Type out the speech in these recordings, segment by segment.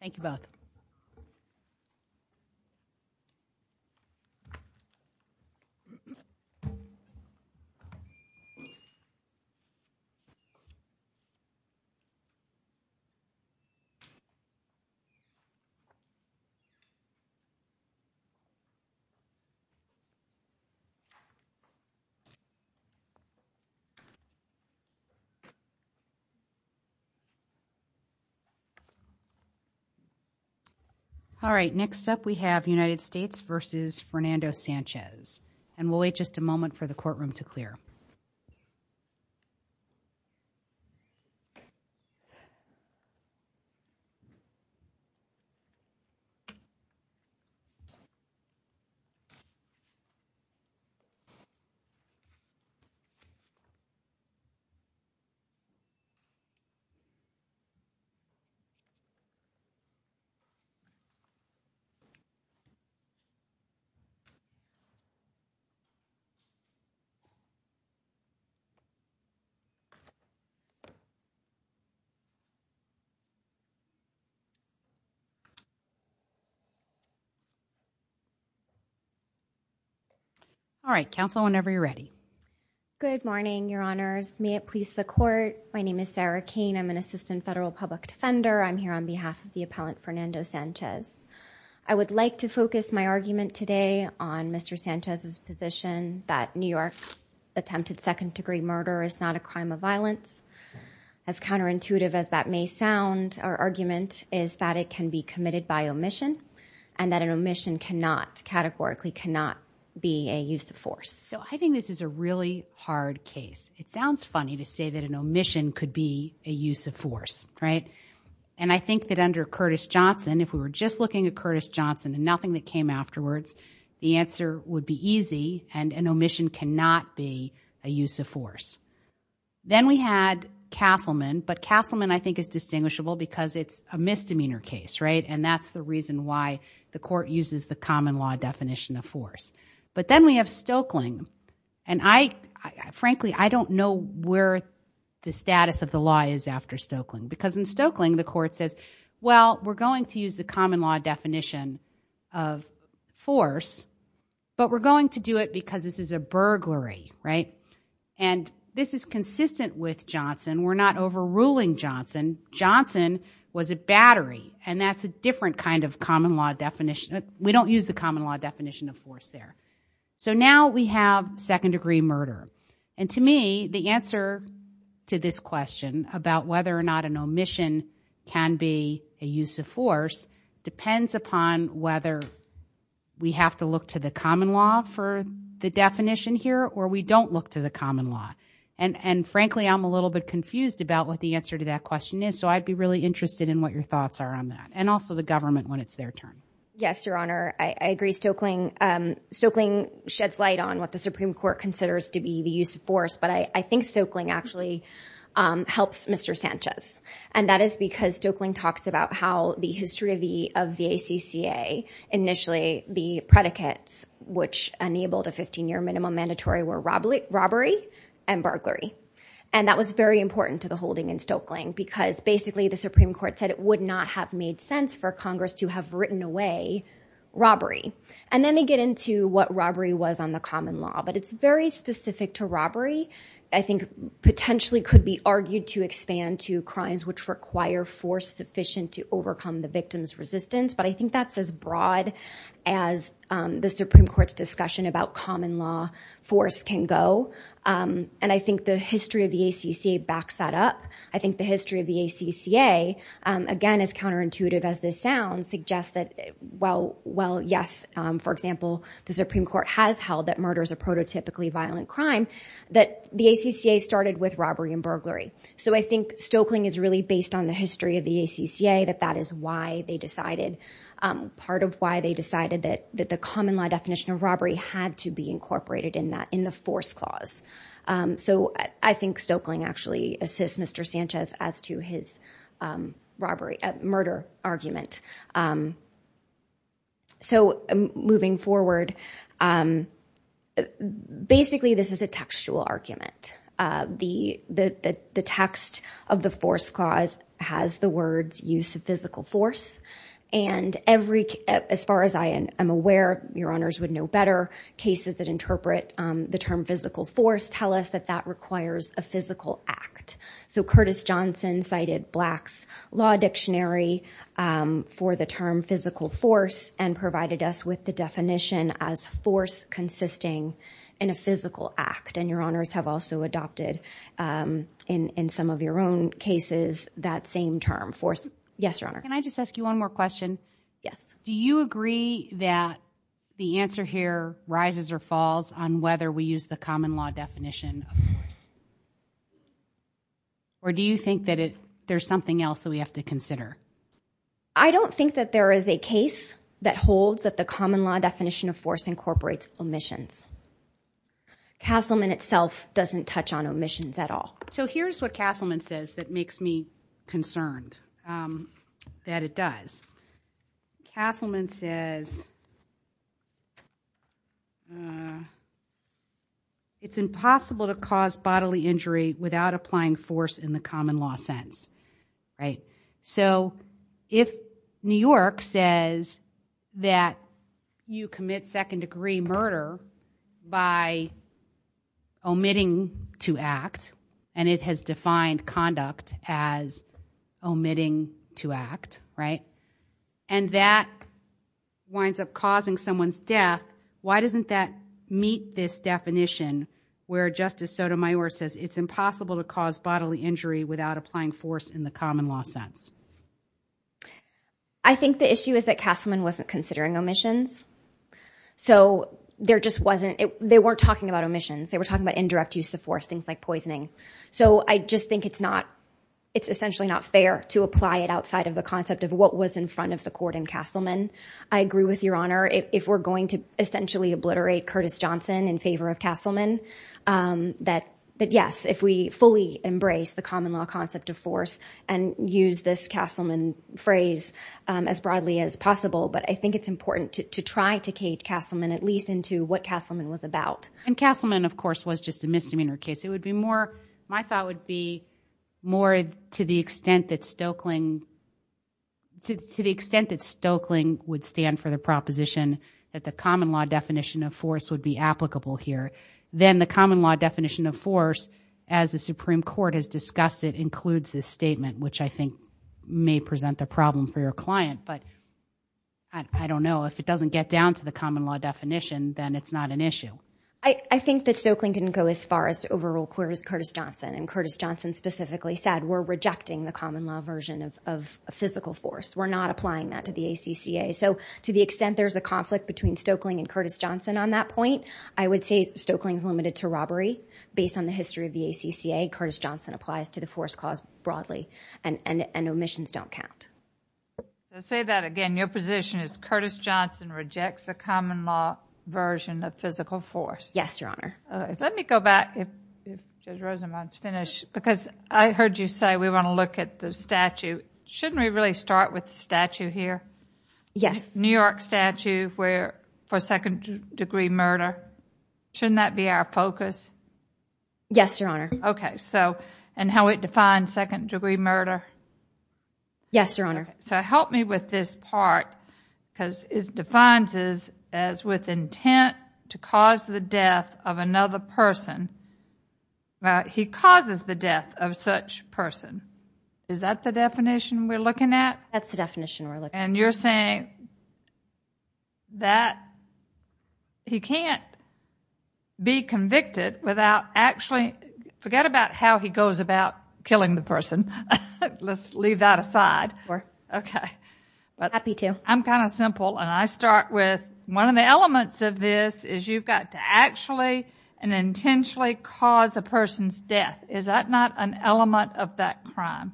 Thank you both. All right, next up we have United States v. Fernando Sanchez, and we'll wait just a moment for the courtroom to clear. All right, counsel, whenever you're ready. Good morning, Your Honors. May it please the court, my name is Sarah Cain, I'm an assistant federal public defender. I'm here on behalf of the appellant Fernando Sanchez. I would like to focus my argument today on Mr. Sanchez's position that New York attempted second-degree murder is not a crime of violence. As counterintuitive as that may sound, our argument is that it can be committed by omission, and that an omission categorically cannot be a use of force. So I think this is a really hard case. It sounds funny to say that an omission could be a use of force, right? And I think that under Curtis Johnson, if we were just looking at Curtis Johnson and nothing that came afterwards, the answer would be easy, and an omission cannot be a use of force. Then we had Castleman, but Castleman I think is distinguishable because it's a misdemeanor case, right? And that's the reason why the court uses the common law definition of force. But then we have Stokeling, and frankly, I don't know where the status of the law is after Stokeling, because in Stokeling, the court says, well, we're going to use the common law definition of force, but we're going to do it because this is a burglary, right? And this is consistent with Johnson. We're not overruling Johnson. Johnson was a battery, and that's a different kind of common law definition. We don't use the common law definition of force there. So now we have second-degree murder. And to me, the answer to this question about whether or not an omission can be a use of force depends upon whether we have to look to the common law for the definition here or we don't look to the common law. And frankly, I'm a little bit confused about what the answer to that question is, so I'd be really interested in what your thoughts are on that, and also the government when it's their turn. Yes, Your Honor. I agree. I think Stokeling sheds light on what the Supreme Court considers to be the use of force, but I think Stokeling actually helps Mr. Sanchez, and that is because Stokeling talks about how the history of the ACCA, initially the predicates which enabled a 15-year minimum mandatory were robbery and burglary, and that was very important to the holding in Stokeling because basically the Supreme Court said it would not have made sense for Congress to have written away robbery. And then they get into what robbery was on the common law, but it's very specific to robbery. I think potentially could be argued to expand to crimes which require force sufficient to overcome the victim's resistance, but I think that's as broad as the Supreme Court's discussion about common law force can go, and I think the history of the ACCA backs that up. I think the history of the ACCA, again, as counterintuitive as this sounds, suggests that while, yes, for example, the Supreme Court has held that murder is a prototypically violent crime, that the ACCA started with robbery and burglary. So I think Stokeling is really based on the history of the ACCA, that that is why they decided, part of why they decided that the common law definition of robbery had to be incorporated in that, in the force clause. So I think Stokeling actually assists Mr. Sanchez as to his murder argument. So moving forward, basically this is a textual argument. The text of the force clause has the words use of physical force, and as far as I am aware, your honors would know better, cases that interpret the term physical force tell us that that requires a physical act. So Curtis Johnson cited Black's Law Dictionary for the term physical force and provided us with the definition as force consisting in a physical act, and your honors have also adopted in some of your own cases that same term, force. Yes, your honor. Can I just ask you one more question? Yes. Do you agree that the answer here rises or falls on whether we use the common law definition of force? Or do you think that there's something else that we have to consider? I don't think that there is a case that holds that the common law definition of force incorporates omissions. Castleman itself doesn't touch on omissions at all. So here's what Castleman says that makes me concerned, that it does. Castleman says, it's impossible to cause bodily injury without applying force in the common law sense, right? So if New York says that you commit second degree murder by omitting to act, and it has defined conduct as omitting to act, right? And that winds up causing someone's death, why doesn't that meet this definition where Justice Sotomayor says it's impossible to cause bodily injury without applying force in the common law sense? I think the issue is that Castleman wasn't considering omissions. So there just wasn't, they weren't talking about omissions, they were talking about indirect use of force, things like poisoning. So I just think it's not, it's essentially not fair to apply it outside of the concept of what was in front of the court in Castleman. I agree with your honor, if we're going to essentially obliterate Curtis Johnson in favor of Castleman, that yes, if we fully embrace the common law concept of force and use this Castleman phrase as broadly as possible, but I think it's important to try to cage Castleman at least into what Castleman was about. And Castleman, of course, was just a misdemeanor case. It would be more, my thought would be more to the extent that Stoeckling, to the extent that Stoeckling would stand for the proposition that the common law definition of force would be applicable here, then the common law definition of force, as the Supreme Court has discussed it, includes this statement, which I think may present the problem for your client. But I don't know, if it doesn't get down to the common law definition, then it's not an issue. I think that Stoeckling didn't go as far as overrule Curtis Johnson, and Curtis Johnson specifically said, we're rejecting the common law version of physical force. We're not applying that to the ACCA. So to the extent there's a conflict between Stoeckling and Curtis Johnson on that point, I would say Stoeckling's limited to robbery. Based on the history of the ACCA, Curtis Johnson applies to the force clause broadly, and omissions don't count. Say that again, your position is Curtis Johnson rejects the common law version of physical force. Yes, Your Honor. Let me go back, because I heard you say we want to look at the statue. Shouldn't we really start with the statue here? Yes. The New York statue for second degree murder. Shouldn't that be our focus? Yes, Your Honor. Okay. So, and how it defines second degree murder? Yes, Your Honor. Okay. So help me with this part, because it defines this as with intent to cause the death of another person, he causes the death of such person. Is that the definition we're looking at? That's the definition we're looking at. And you're saying that he can't be convicted without actually, forget about how he goes about killing the person. Let's leave that aside. Sure. Okay. Happy to. I'm kind of simple, and I start with one of the elements of this is you've got to actually and intentionally cause a person's death. Is that not an element of that crime?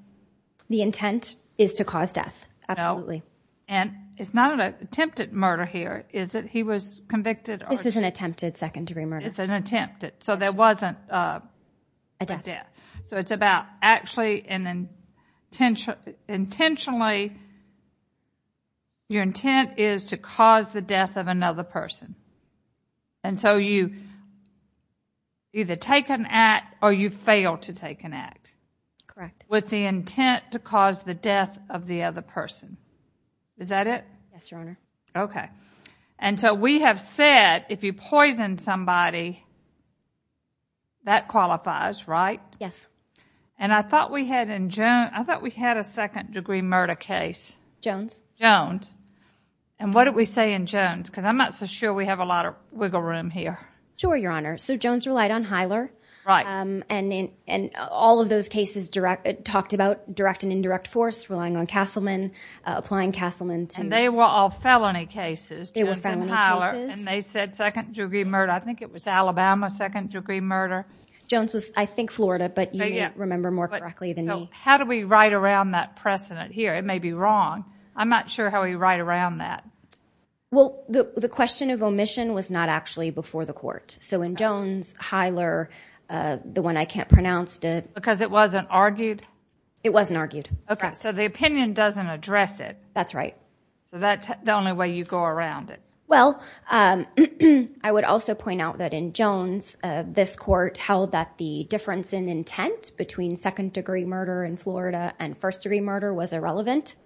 The intent is to cause death. No. Absolutely. And it's not an attempted murder here, is it? He was convicted? This is an attempted second degree murder. It's an attempted. So there wasn't a death. So it's about actually and intentionally your intent is to cause the death of another person. And so you either take an act or you fail to take an act. Correct. With the intent to cause the death of the other person. Is that it? Yes, Your Honor. Okay. And so we have said if you poison somebody, that qualifies, right? Yes. And I thought we had a second degree murder case. Jones. Jones. And what did we say in Jones? Because I'm not so sure we have a lot of wiggle room here. Sure, Your Honor. So Jones relied on Hyler. Right. And all of those cases talked about direct and indirect force, relying on Castleman, applying Castleman to... And they were all felony cases, Jones and Hyler. They were felony cases. And they said second degree murder. I think it was Alabama, second degree murder. Jones was, I think, Florida, but you may remember more correctly than me. So how do we write around that precedent here? It may be wrong. I'm not sure how we write around that. Well, the question of omission was not actually before the court. So in Jones... Okay. So in Jones, Hyler, the one I can't pronounce, did... Because it wasn't argued? It wasn't argued. Okay. So the opinion doesn't address it. That's right. So that's the only way you go around it. Well, I would also point out that in Jones, this court held that the difference in intent between second degree murder in Florida and first degree murder was irrelevant.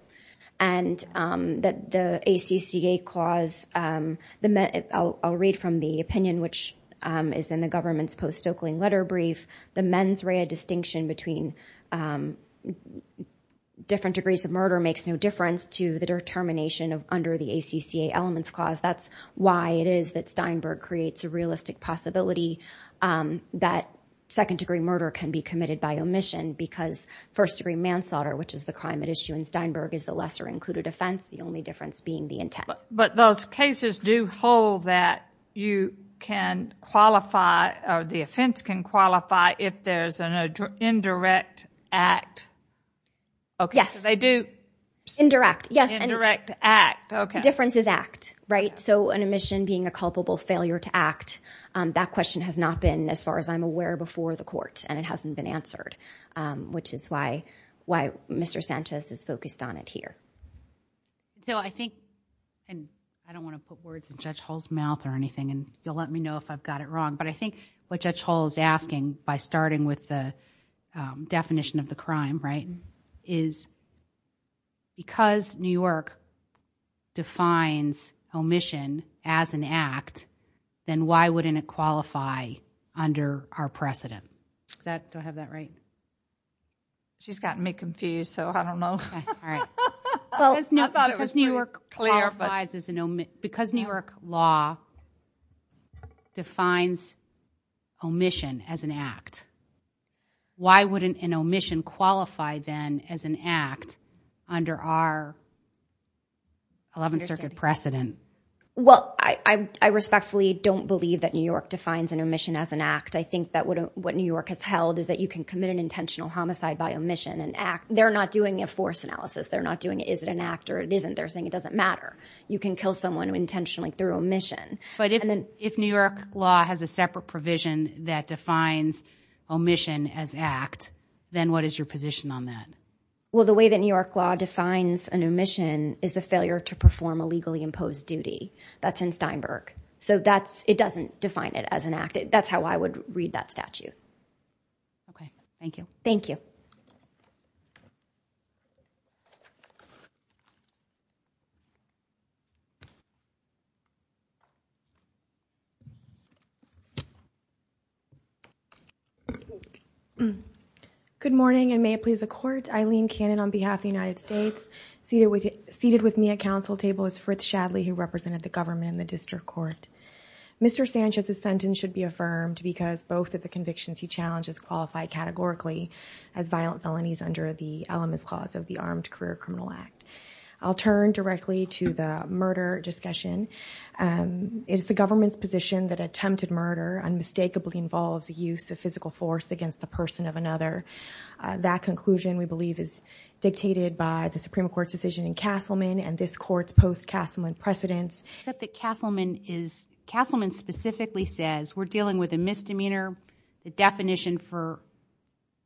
And that the ACCA clause... I'll read from the opinion, which is in the government's post-Stokling letter brief. The mens rea distinction between different degrees of murder makes no difference to the determination under the ACCA elements clause. That's why it is that Steinberg creates a realistic possibility that second degree murder can be committed by omission. Because first degree manslaughter, which is the crime at issue in Steinberg, is the lesser included offense. The only difference being the intent. But those cases do hold that you can qualify, or the offense can qualify if there's an indirect act. Yes. Okay. So they do... Indirect, yes. Indirect act. Okay. The difference is act, right? So an omission being a culpable failure to act, that question has not been, as far as I'm aware, before the court, and it hasn't been answered. Which is why Mr. Sanchez is focused on it here. So I think... And I don't want to put words in Judge Hall's mouth or anything, and you'll let me know if I've got it wrong, but I think what Judge Hall is asking, by starting with the definition of the crime, right, is because New York defines omission as an act, then why wouldn't it qualify under our precedent? Does that... Do I have that right? She's gotten me confused, so I don't know. All right. I thought it was pretty clear, but... Because New York qualifies as an... Because New York law defines omission as an act, why wouldn't an omission qualify, then, as an act, under our 11th Circuit precedent? Well, I respectfully don't believe that New York defines an omission as an act. I think that what New York has held is that you can commit an intentional homicide by omission and act. They're not doing a force analysis. They're not doing, is it an act, or it isn't, they're saying it doesn't matter. You can kill someone intentionally through omission. But if New York law has a separate provision that defines omission as act, then what is your position on that? Well, the way that New York law defines an omission is the failure to perform a legally imposed duty. That's in Steinberg. So that's... It doesn't define it as an act. That's how I would read that statute. Okay. Thank you. Thank you. Good morning, and may it please the Court. My name is Eileen Cannon on behalf of the United States. Seated with me at council table is Fritz Shadley, who represented the government in the District Court. Mr. Sanchez's sentence should be affirmed because both of the convictions he challenged as qualified categorically as violent felonies under the elements clause of the Armed Career Criminal Act. I'll turn directly to the murder discussion. It's the government's position that attempted murder unmistakably involves the use of physical force against the person of another. That conclusion, we believe, is dictated by the Supreme Court's decision in Castleman and this Court's post-Castleman precedents. Except that Castleman is... Castleman specifically says, we're dealing with a misdemeanor. The definition for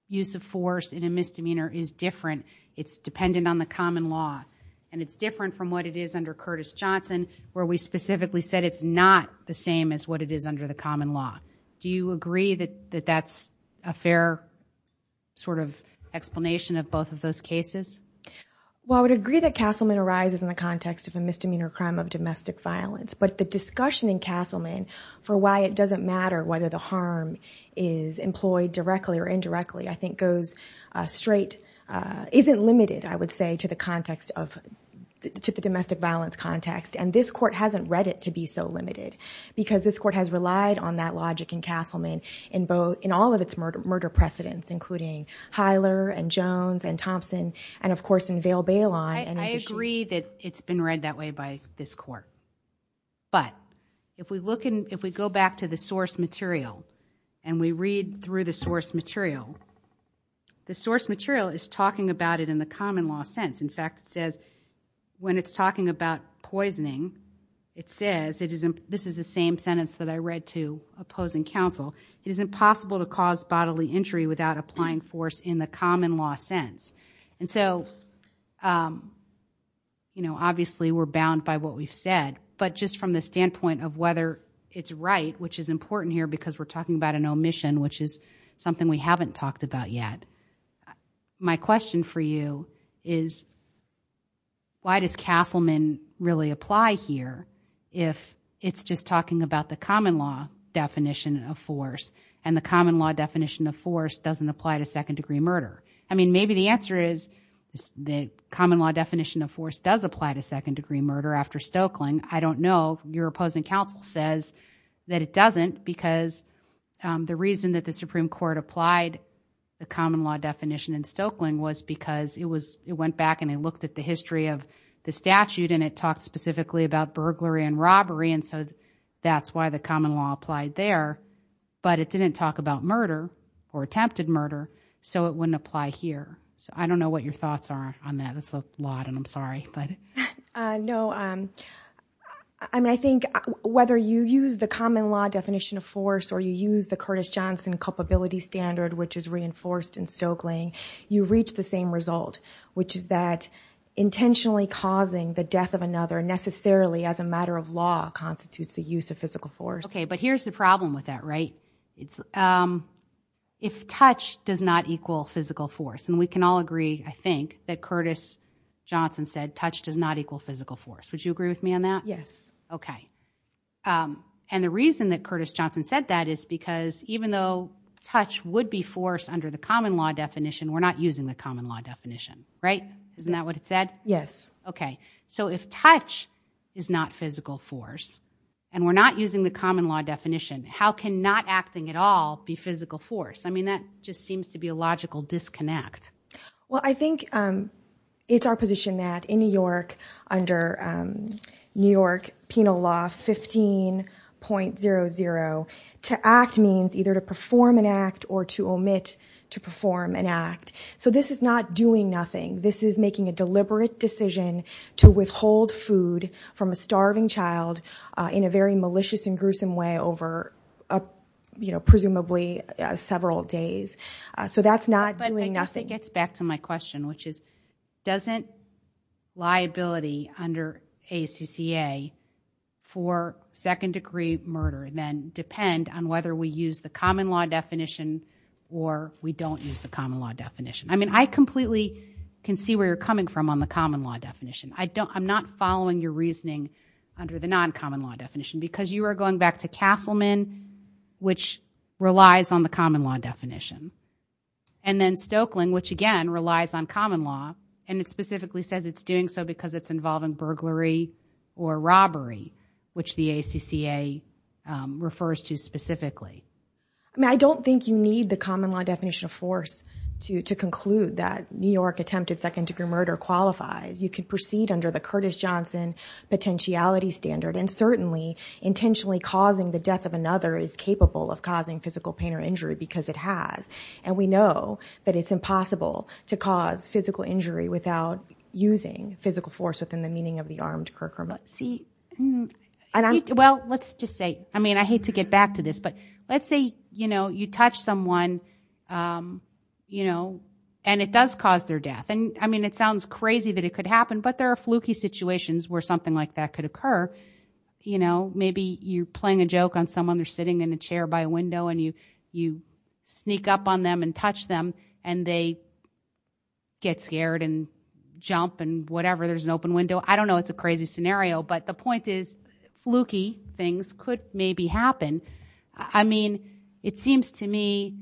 use of force in a misdemeanor is different. It's dependent on the common law. And it's different from what it is under Curtis Johnson, where we specifically said it's not the same as what it is under the common law. Do you agree that that's a fair sort of explanation of both of those cases? Well, I would agree that Castleman arises in the context of a misdemeanor crime of domestic violence. But the discussion in Castleman for why it doesn't matter whether the harm is employed directly or indirectly, I think goes straight, isn't limited, I would say, to the context of, to the domestic violence context. And this Court hasn't read it to be so limited. Because this Court has relied on that logic in Castleman in all of its murder precedents, including Hyler and Jones and Thompson, and of course, in Vail-Baylon. I agree that it's been read that way by this Court. But if we go back to the source material and we read through the source material, the source material is talking about it in the common law sense. In fact, it says, when it's talking about poisoning, it says, this is the same sentence that I read to opposing counsel, it is impossible to cause bodily injury without applying force in the common law sense. And so, you know, obviously we're bound by what we've said. But just from the standpoint of whether it's right, which is important here because we're talking about an omission, which is something we haven't talked about yet. But my question for you is, why does Castleman really apply here if it's just talking about the common law definition of force and the common law definition of force doesn't apply to second-degree murder? I mean, maybe the answer is the common law definition of force does apply to second-degree murder after Stoeckling. I don't know. Your opposing counsel says that it doesn't because the reason that the Supreme Court applied the common law definition in Stoeckling was because it went back and it looked at the history of the statute and it talked specifically about burglary and robbery. And so that's why the common law applied there. But it didn't talk about murder or attempted murder. So it wouldn't apply here. So I don't know what your thoughts are on that. It's a lot, and I'm sorry. No. I mean, I think whether you use the common law definition of force or you use the Curtis Johnson culpability standard, which is reinforced in Stoeckling, you reach the same result, which is that intentionally causing the death of another necessarily as a matter of law constitutes the use of physical force. Okay. But here's the problem with that, right? If touch does not equal physical force, and we can all agree, I think, that Curtis Johnson said touch does not equal physical force. Would you agree with me on that? Yes. Okay. And the reason that Curtis Johnson said that is because even though touch would be force under the common law definition, we're not using the common law definition, right? Isn't that what it said? Yes. Okay. So if touch is not physical force, and we're not using the common law definition, how can not acting at all be physical force? I mean, that just seems to be a logical disconnect. Well, I think it's our position that in New York, under New York Penal Law 15.00, to act means either to perform an act or to omit to perform an act. So this is not doing nothing. This is making a deliberate decision to withhold food from a starving child in a very malicious and gruesome way over presumably several days. So that's not doing nothing. I guess it gets back to my question, which is, doesn't liability under ACCA for second-degree murder then depend on whether we use the common law definition or we don't use the common law definition? I mean, I completely can see where you're coming from on the common law definition. I'm not following your reasoning under the non-common law definition, because you are going back to Castleman, which relies on the common law definition. And then Stoeckling, which, again, relies on common law, and it specifically says it's doing so because it's involving burglary or robbery, which the ACCA refers to specifically. I mean, I don't think you need the common law definition of force to conclude that New York attempted second-degree murder qualifies. You could proceed under the Curtis Johnson potentiality standard. And certainly, intentionally causing the death of another is capable of causing physical pain or injury, because it has. And we know that it's impossible to cause physical injury without using physical force within the meaning of the armed curcumstance. Well, let's just say, I mean, I hate to get back to this, but let's say you touch someone, and it does cause their death. And I mean, it sounds crazy that it could happen, but there are fluky situations where something like that could occur. You know, maybe you're playing a joke on someone. They're sitting in a chair by a window, and you sneak up on them and touch them, and they get scared and jump and whatever. There's an open window. I don't know. It's a crazy scenario. But the point is, fluky things could maybe happen. I mean, it seems to me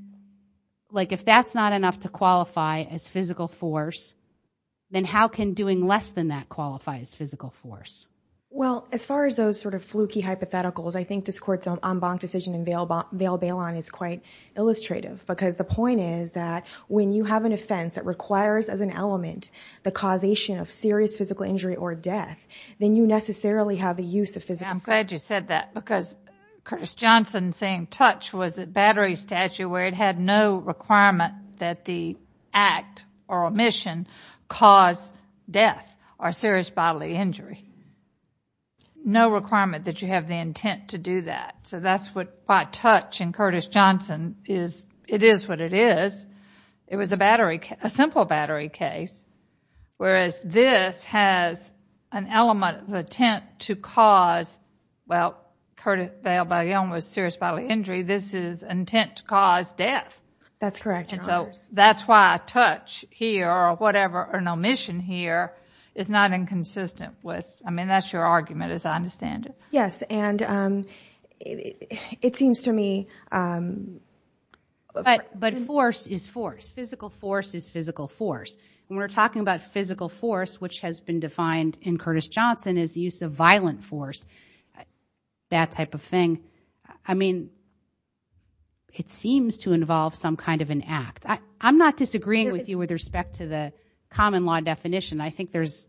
like if that's not enough to qualify as physical force, then how can doing less than that qualify as physical force? Well, as far as those sort of fluky hypotheticals, I think this Court's en banc decision in Vail Bailon is quite illustrative, because the point is that when you have an offense that requires as an element the causation of serious physical injury or death, then you necessarily have the use of physical force. I'm glad you said that, because Curtis Johnson saying touch was a battery statute where it had no requirement that the act or omission cause death or serious bodily injury. No requirement that you have the intent to do that. So that's why touch in Curtis Johnson, it is what it is. It was a simple battery case, whereas this has an element of intent to cause, well, Curtis Johnson, death. That's correct, Your Honors. And so that's why touch here, or whatever, or an omission here, is not inconsistent with, I mean, that's your argument, as I understand it. Yes. And it seems to me- But force is force. Physical force is physical force. And we're talking about physical force, which has been defined in Curtis Johnson as use of violent force, that type of thing. And I mean, it seems to involve some kind of an act. I'm not disagreeing with you with respect to the common law definition. I think there's,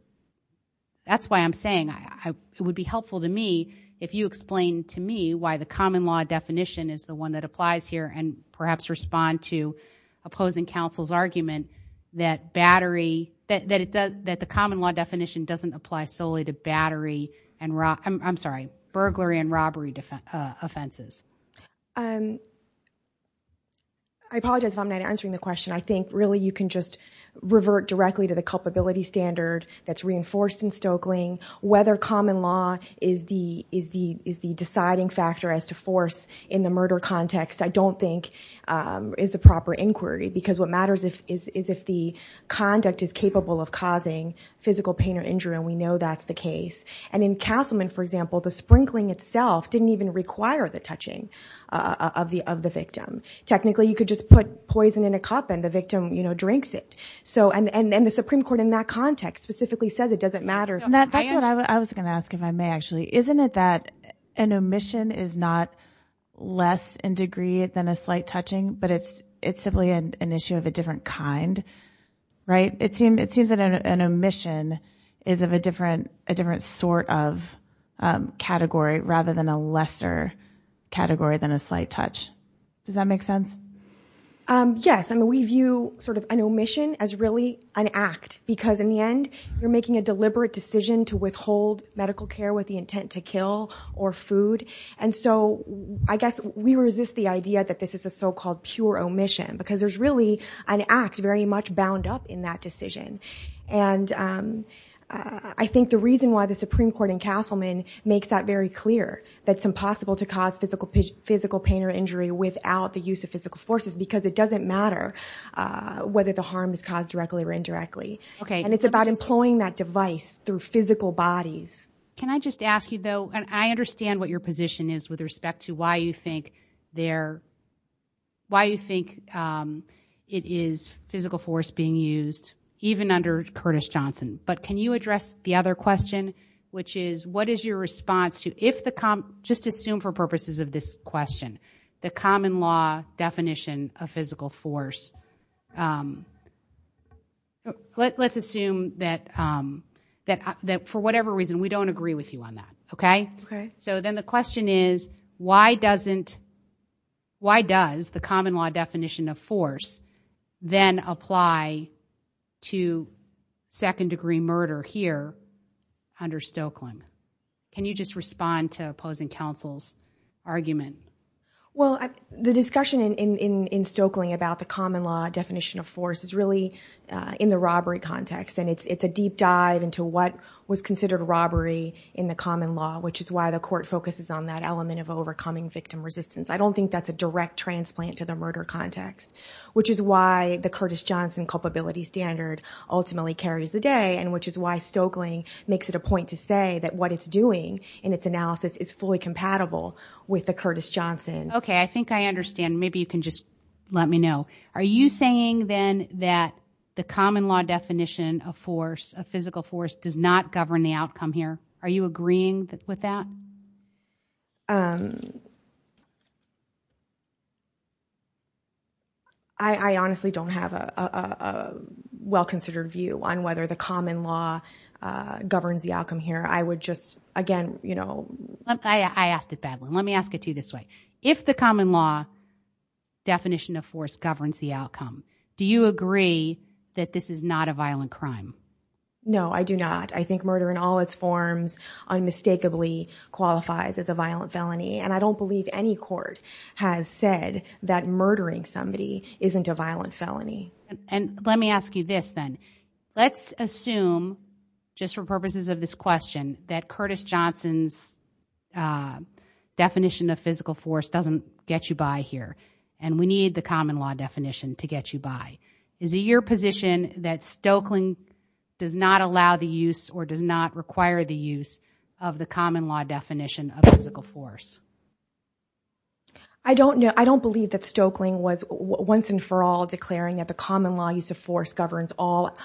that's why I'm saying it would be helpful to me if you explain to me why the common law definition is the one that applies here, and perhaps respond to opposing counsel's argument that battery, that the common law definition doesn't apply solely to battery and, I'm sorry, burglary and robbery offenses. I apologize if I'm not answering the question. I think, really, you can just revert directly to the culpability standard that's reinforced in Stokeling. Whether common law is the deciding factor as to force in the murder context, I don't think is the proper inquiry. Because what matters is if the conduct is capable of causing physical pain or injury, and we know that's the case. And in Castleman, for example, the sprinkling itself didn't even require the touching of the victim. Technically, you could just put poison in a cup and the victim drinks it. And the Supreme Court, in that context, specifically says it doesn't matter. That's what I was going to ask, if I may, actually. Isn't it that an omission is not less in degree than a slight touching, but it's simply an issue of a different kind? Right? It seems that an omission is of a different sort of category, rather than a lesser category than a slight touch. Does that make sense? Yes. I mean, we view sort of an omission as really an act. Because in the end, you're making a deliberate decision to withhold medical care with the intent to kill or food. And so I guess we resist the idea that this is the so-called pure omission. Because there's really an act very much bound up in that decision. And I think the reason why the Supreme Court in Castleman makes that very clear, that it's impossible to cause physical pain or injury without the use of physical forces, because it doesn't matter whether the harm is caused directly or indirectly. And it's about employing that device through physical bodies. Can I just ask you, though, and I understand what your position is with respect to why you think it is physical force being used, even under Curtis Johnson. But can you address the other question, which is, what is your response to, just assume for purposes of this question, the common law definition of physical force. Let's assume that for whatever reason, we don't agree with you on that, OK? So then the question is, why does the common law definition of force then apply to second degree murder here under Stokelyn? Can you just respond to opposing counsel's argument? Well, the discussion in Stokelyn about the common law definition of force is really in the robbery context. And it's a deep dive into what was considered robbery in the common law, which is why the court focuses on that element of overcoming victim resistance. I don't think that's a direct transplant to the murder context, which is why the Curtis Johnson culpability standard ultimately carries the day, and which is why Stokelyn makes it a point to say that what it's doing in its analysis is fully compatible with the Curtis Johnson. OK, I think I understand. Maybe you can just let me know. Are you saying, then, that the common law definition of force, of physical force, does not govern the outcome here? Are you agreeing with that? I honestly don't have a well-considered view on whether the common law governs the outcome here. I would just, again, you know. I asked a bad one. Let me ask it to you this way. If the common law definition of force governs the outcome, do you agree that this is not a violent crime? No, I do not. I think murder in all its forms unmistakably qualifies as a violent felony. And I don't believe any court has said that murdering somebody isn't a violent felony. And let me ask you this, then. Let's assume, just for purposes of this question, that Curtis Johnson's definition of physical force doesn't get you by here. And we need the common law definition to get you by. Is it your position that Stoeckling does not allow the use or does not require the use of the common law definition of physical force? I don't know. I don't believe that Stoeckling was once and for all declaring that the common law use of force governs all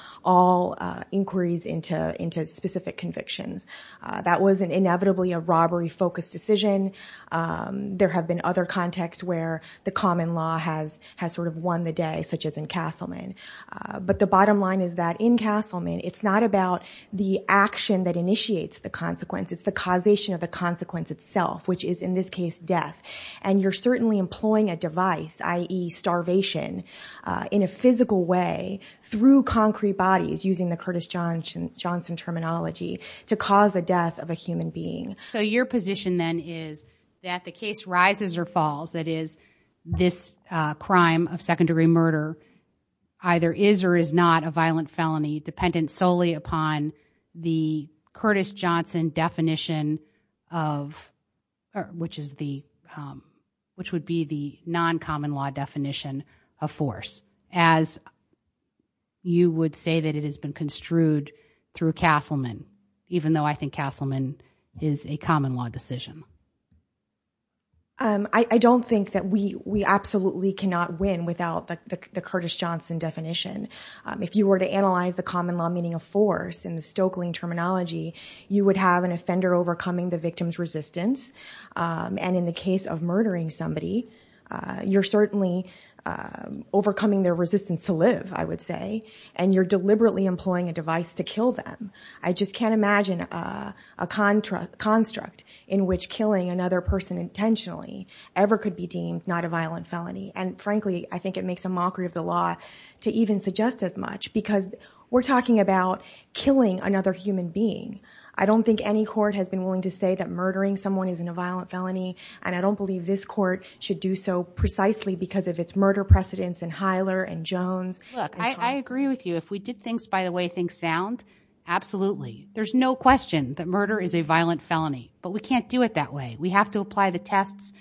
inquiries into specific convictions. That was inevitably a robbery-focused decision. There have been other contexts where the common law has sort of won the day, such as in Castleman. But the bottom line is that in Castleman, it's not about the action that initiates the consequence. It's the causation of the consequence itself, which is, in this case, death. And you're certainly employing a device, i.e., starvation, in a physical way through concrete bodies, using the Curtis Johnson terminology, to cause the death of a human being. So your position, then, is that the case rises or falls, that is, this crime of second-degree murder either is or is not a violent felony dependent solely upon the Curtis Johnson definition of, which is the, which would be the non-common law definition of force, as you would say that it has been construed through Castleman, even though I think Castleman is a common law decision. I don't think that we absolutely cannot win without the Curtis Johnson definition. If you were to analyze the common law meaning of force in the Stoeckling terminology, you would have an offender overcoming the victim's resistance. And in the case of murdering somebody, you're certainly overcoming their resistance to live, I would say. And you're deliberately employing a device to kill them. I just can't imagine a construct in which killing another person intentionally ever could be deemed not a violent felony. And frankly, I think it makes a mockery of the law to even suggest as much, because we're talking about killing another human being. I don't think any court has been willing to say that murdering someone isn't a violent felony. And I don't believe this court should do so precisely because of its murder precedents in Hyler and Jones. Look, I agree with you. If we did things by the way things sound, absolutely. There's no question that murder is a violent felony, but we can't do it that way. We have to apply the tests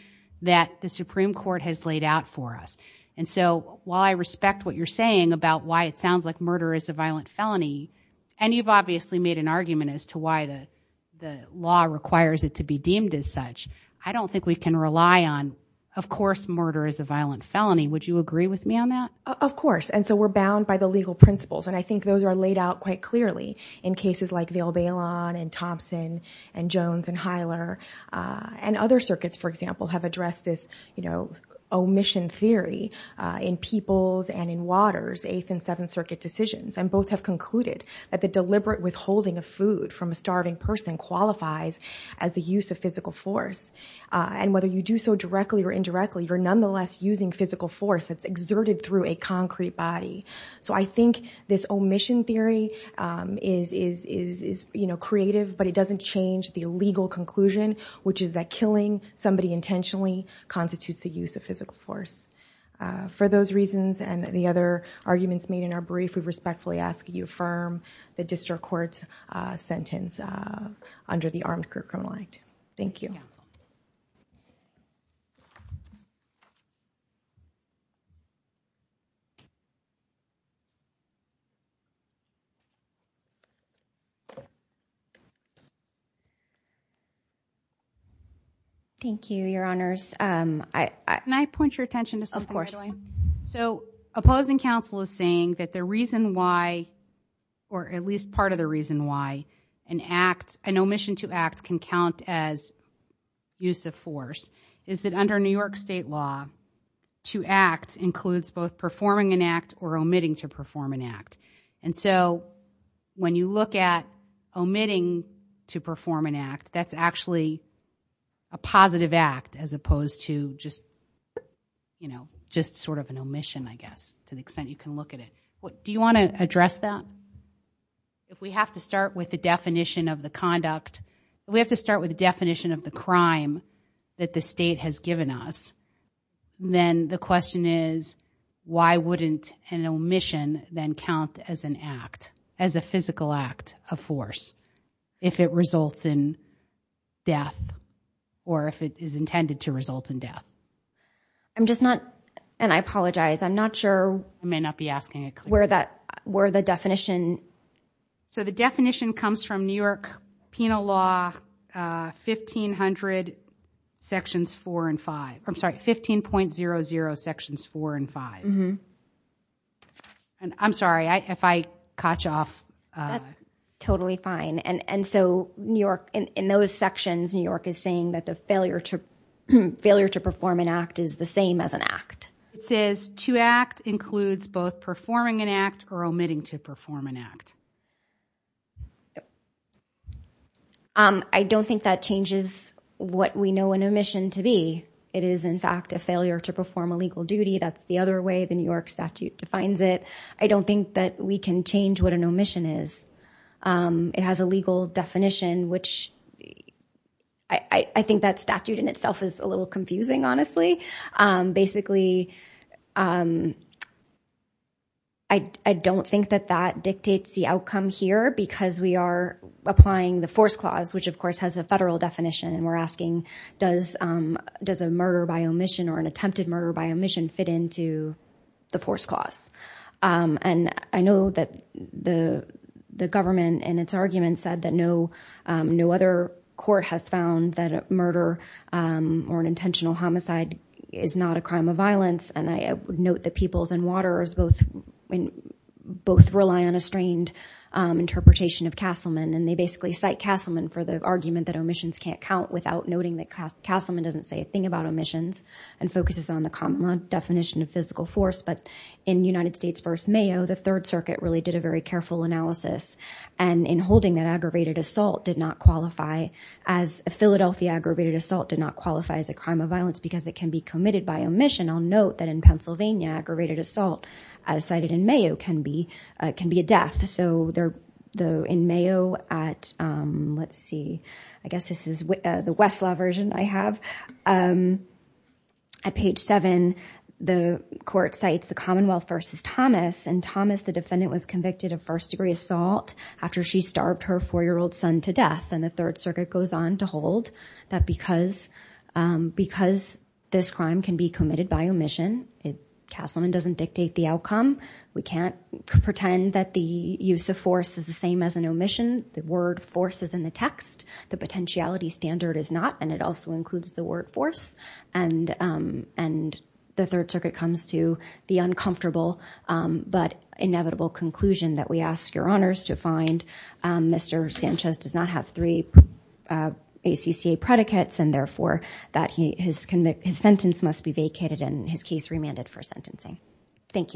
that the Supreme Court has laid out for us. And so while I respect what you're saying about why it sounds like murder is a violent felony, and you've obviously made an argument as to why the law requires it to be deemed as such, I don't think we can rely on, of course, murder is a violent felony. Would you agree with me on that? Of course. And so we're bound by the legal principles. And I think those are laid out quite clearly in cases like Vail Baylon and Thompson and Jones and Hyler. And other circuits, for example, have addressed this, you know, omission theory in Peoples and in Waters, Eighth and Seventh Circuit decisions, and both have concluded that the deliberate withholding of food from a starving person qualifies as the use of physical force. And whether you do so directly or indirectly, you're nonetheless using physical force that's a concrete body. So I think this omission theory is, you know, creative, but it doesn't change the legal conclusion, which is that killing somebody intentionally constitutes the use of physical force. For those reasons and the other arguments made in our brief, we respectfully ask that you affirm the district court's sentence under the Armed Crew Criminal Act. Thank you. Yes. Thank you. Thank you, Your Honors. Can I point your attention to something, Madeline? Of course. So opposing counsel is saying that the reason why, or at least part of the reason why, an act, an omission to act can count as use of force, is that under New York State law, to perform an act or omitting to perform an act. And so when you look at omitting to perform an act, that's actually a positive act as opposed to just, you know, just sort of an omission, I guess, to the extent you can look at it. Do you want to address that? If we have to start with the definition of the conduct, we have to start with the definition of the crime that the state has given us, then the question is, why wouldn't an omission then count as an act, as a physical act of force, if it results in death, or if it is intended to result in death? I'm just not, and I apologize, I'm not sure. I may not be asking it clearly. Where that, where the definition. So the definition comes from New York Penal Law 1500 sections 4 and 5, I'm sorry, 15.00 sections 4 and 5. And I'm sorry, if I caught you off. That's totally fine. And so New York, in those sections, New York is saying that the failure to perform an act is the same as an act. It says, to act includes both performing an act or omitting to perform an act. I don't think that changes what we know an omission to be. It is, in fact, a failure to perform a legal duty. That's the other way the New York statute defines it. I don't think that we can change what an omission is. It has a legal definition, which I think that statute in itself is a little confusing, honestly. Basically, I don't think that that dictates the outcome here because we are applying the force clause, which of course has a federal definition. And we're asking, does a murder by omission or an attempted murder by omission fit into the force clause? And I know that the government, in its argument, said that no other court has found that a intentional homicide is not a crime of violence. And I note that peoples and waterers both rely on a strained interpretation of Castleman. And they basically cite Castleman for the argument that omissions can't count without noting that Castleman doesn't say a thing about omissions and focuses on the common definition of physical force. But in United States v. Mayo, the Third Circuit really did a very careful analysis. And in holding that aggravated assault did not qualify as a Philadelphia aggravated assault did not qualify as a crime of violence because it can be committed by omission, I'll note that in Pennsylvania, aggravated assault cited in Mayo can be a death. So in Mayo at, let's see, I guess this is the Westlaw version I have. At page 7, the court cites the Commonwealth v. Thomas. And Thomas, the defendant, was convicted of first degree assault after she starved her four-year-old son to death. And the Third Circuit goes on to hold that because this crime can be committed by omission, Castleman doesn't dictate the outcome. We can't pretend that the use of force is the same as an omission. The word force is in the text. The potentiality standard is not. And it also includes the word force. And the Third Circuit comes to the uncomfortable but inevitable conclusion that we ask your first degree ACCA predicates and therefore that his sentence must be vacated and his case remanded for sentencing. Thank you.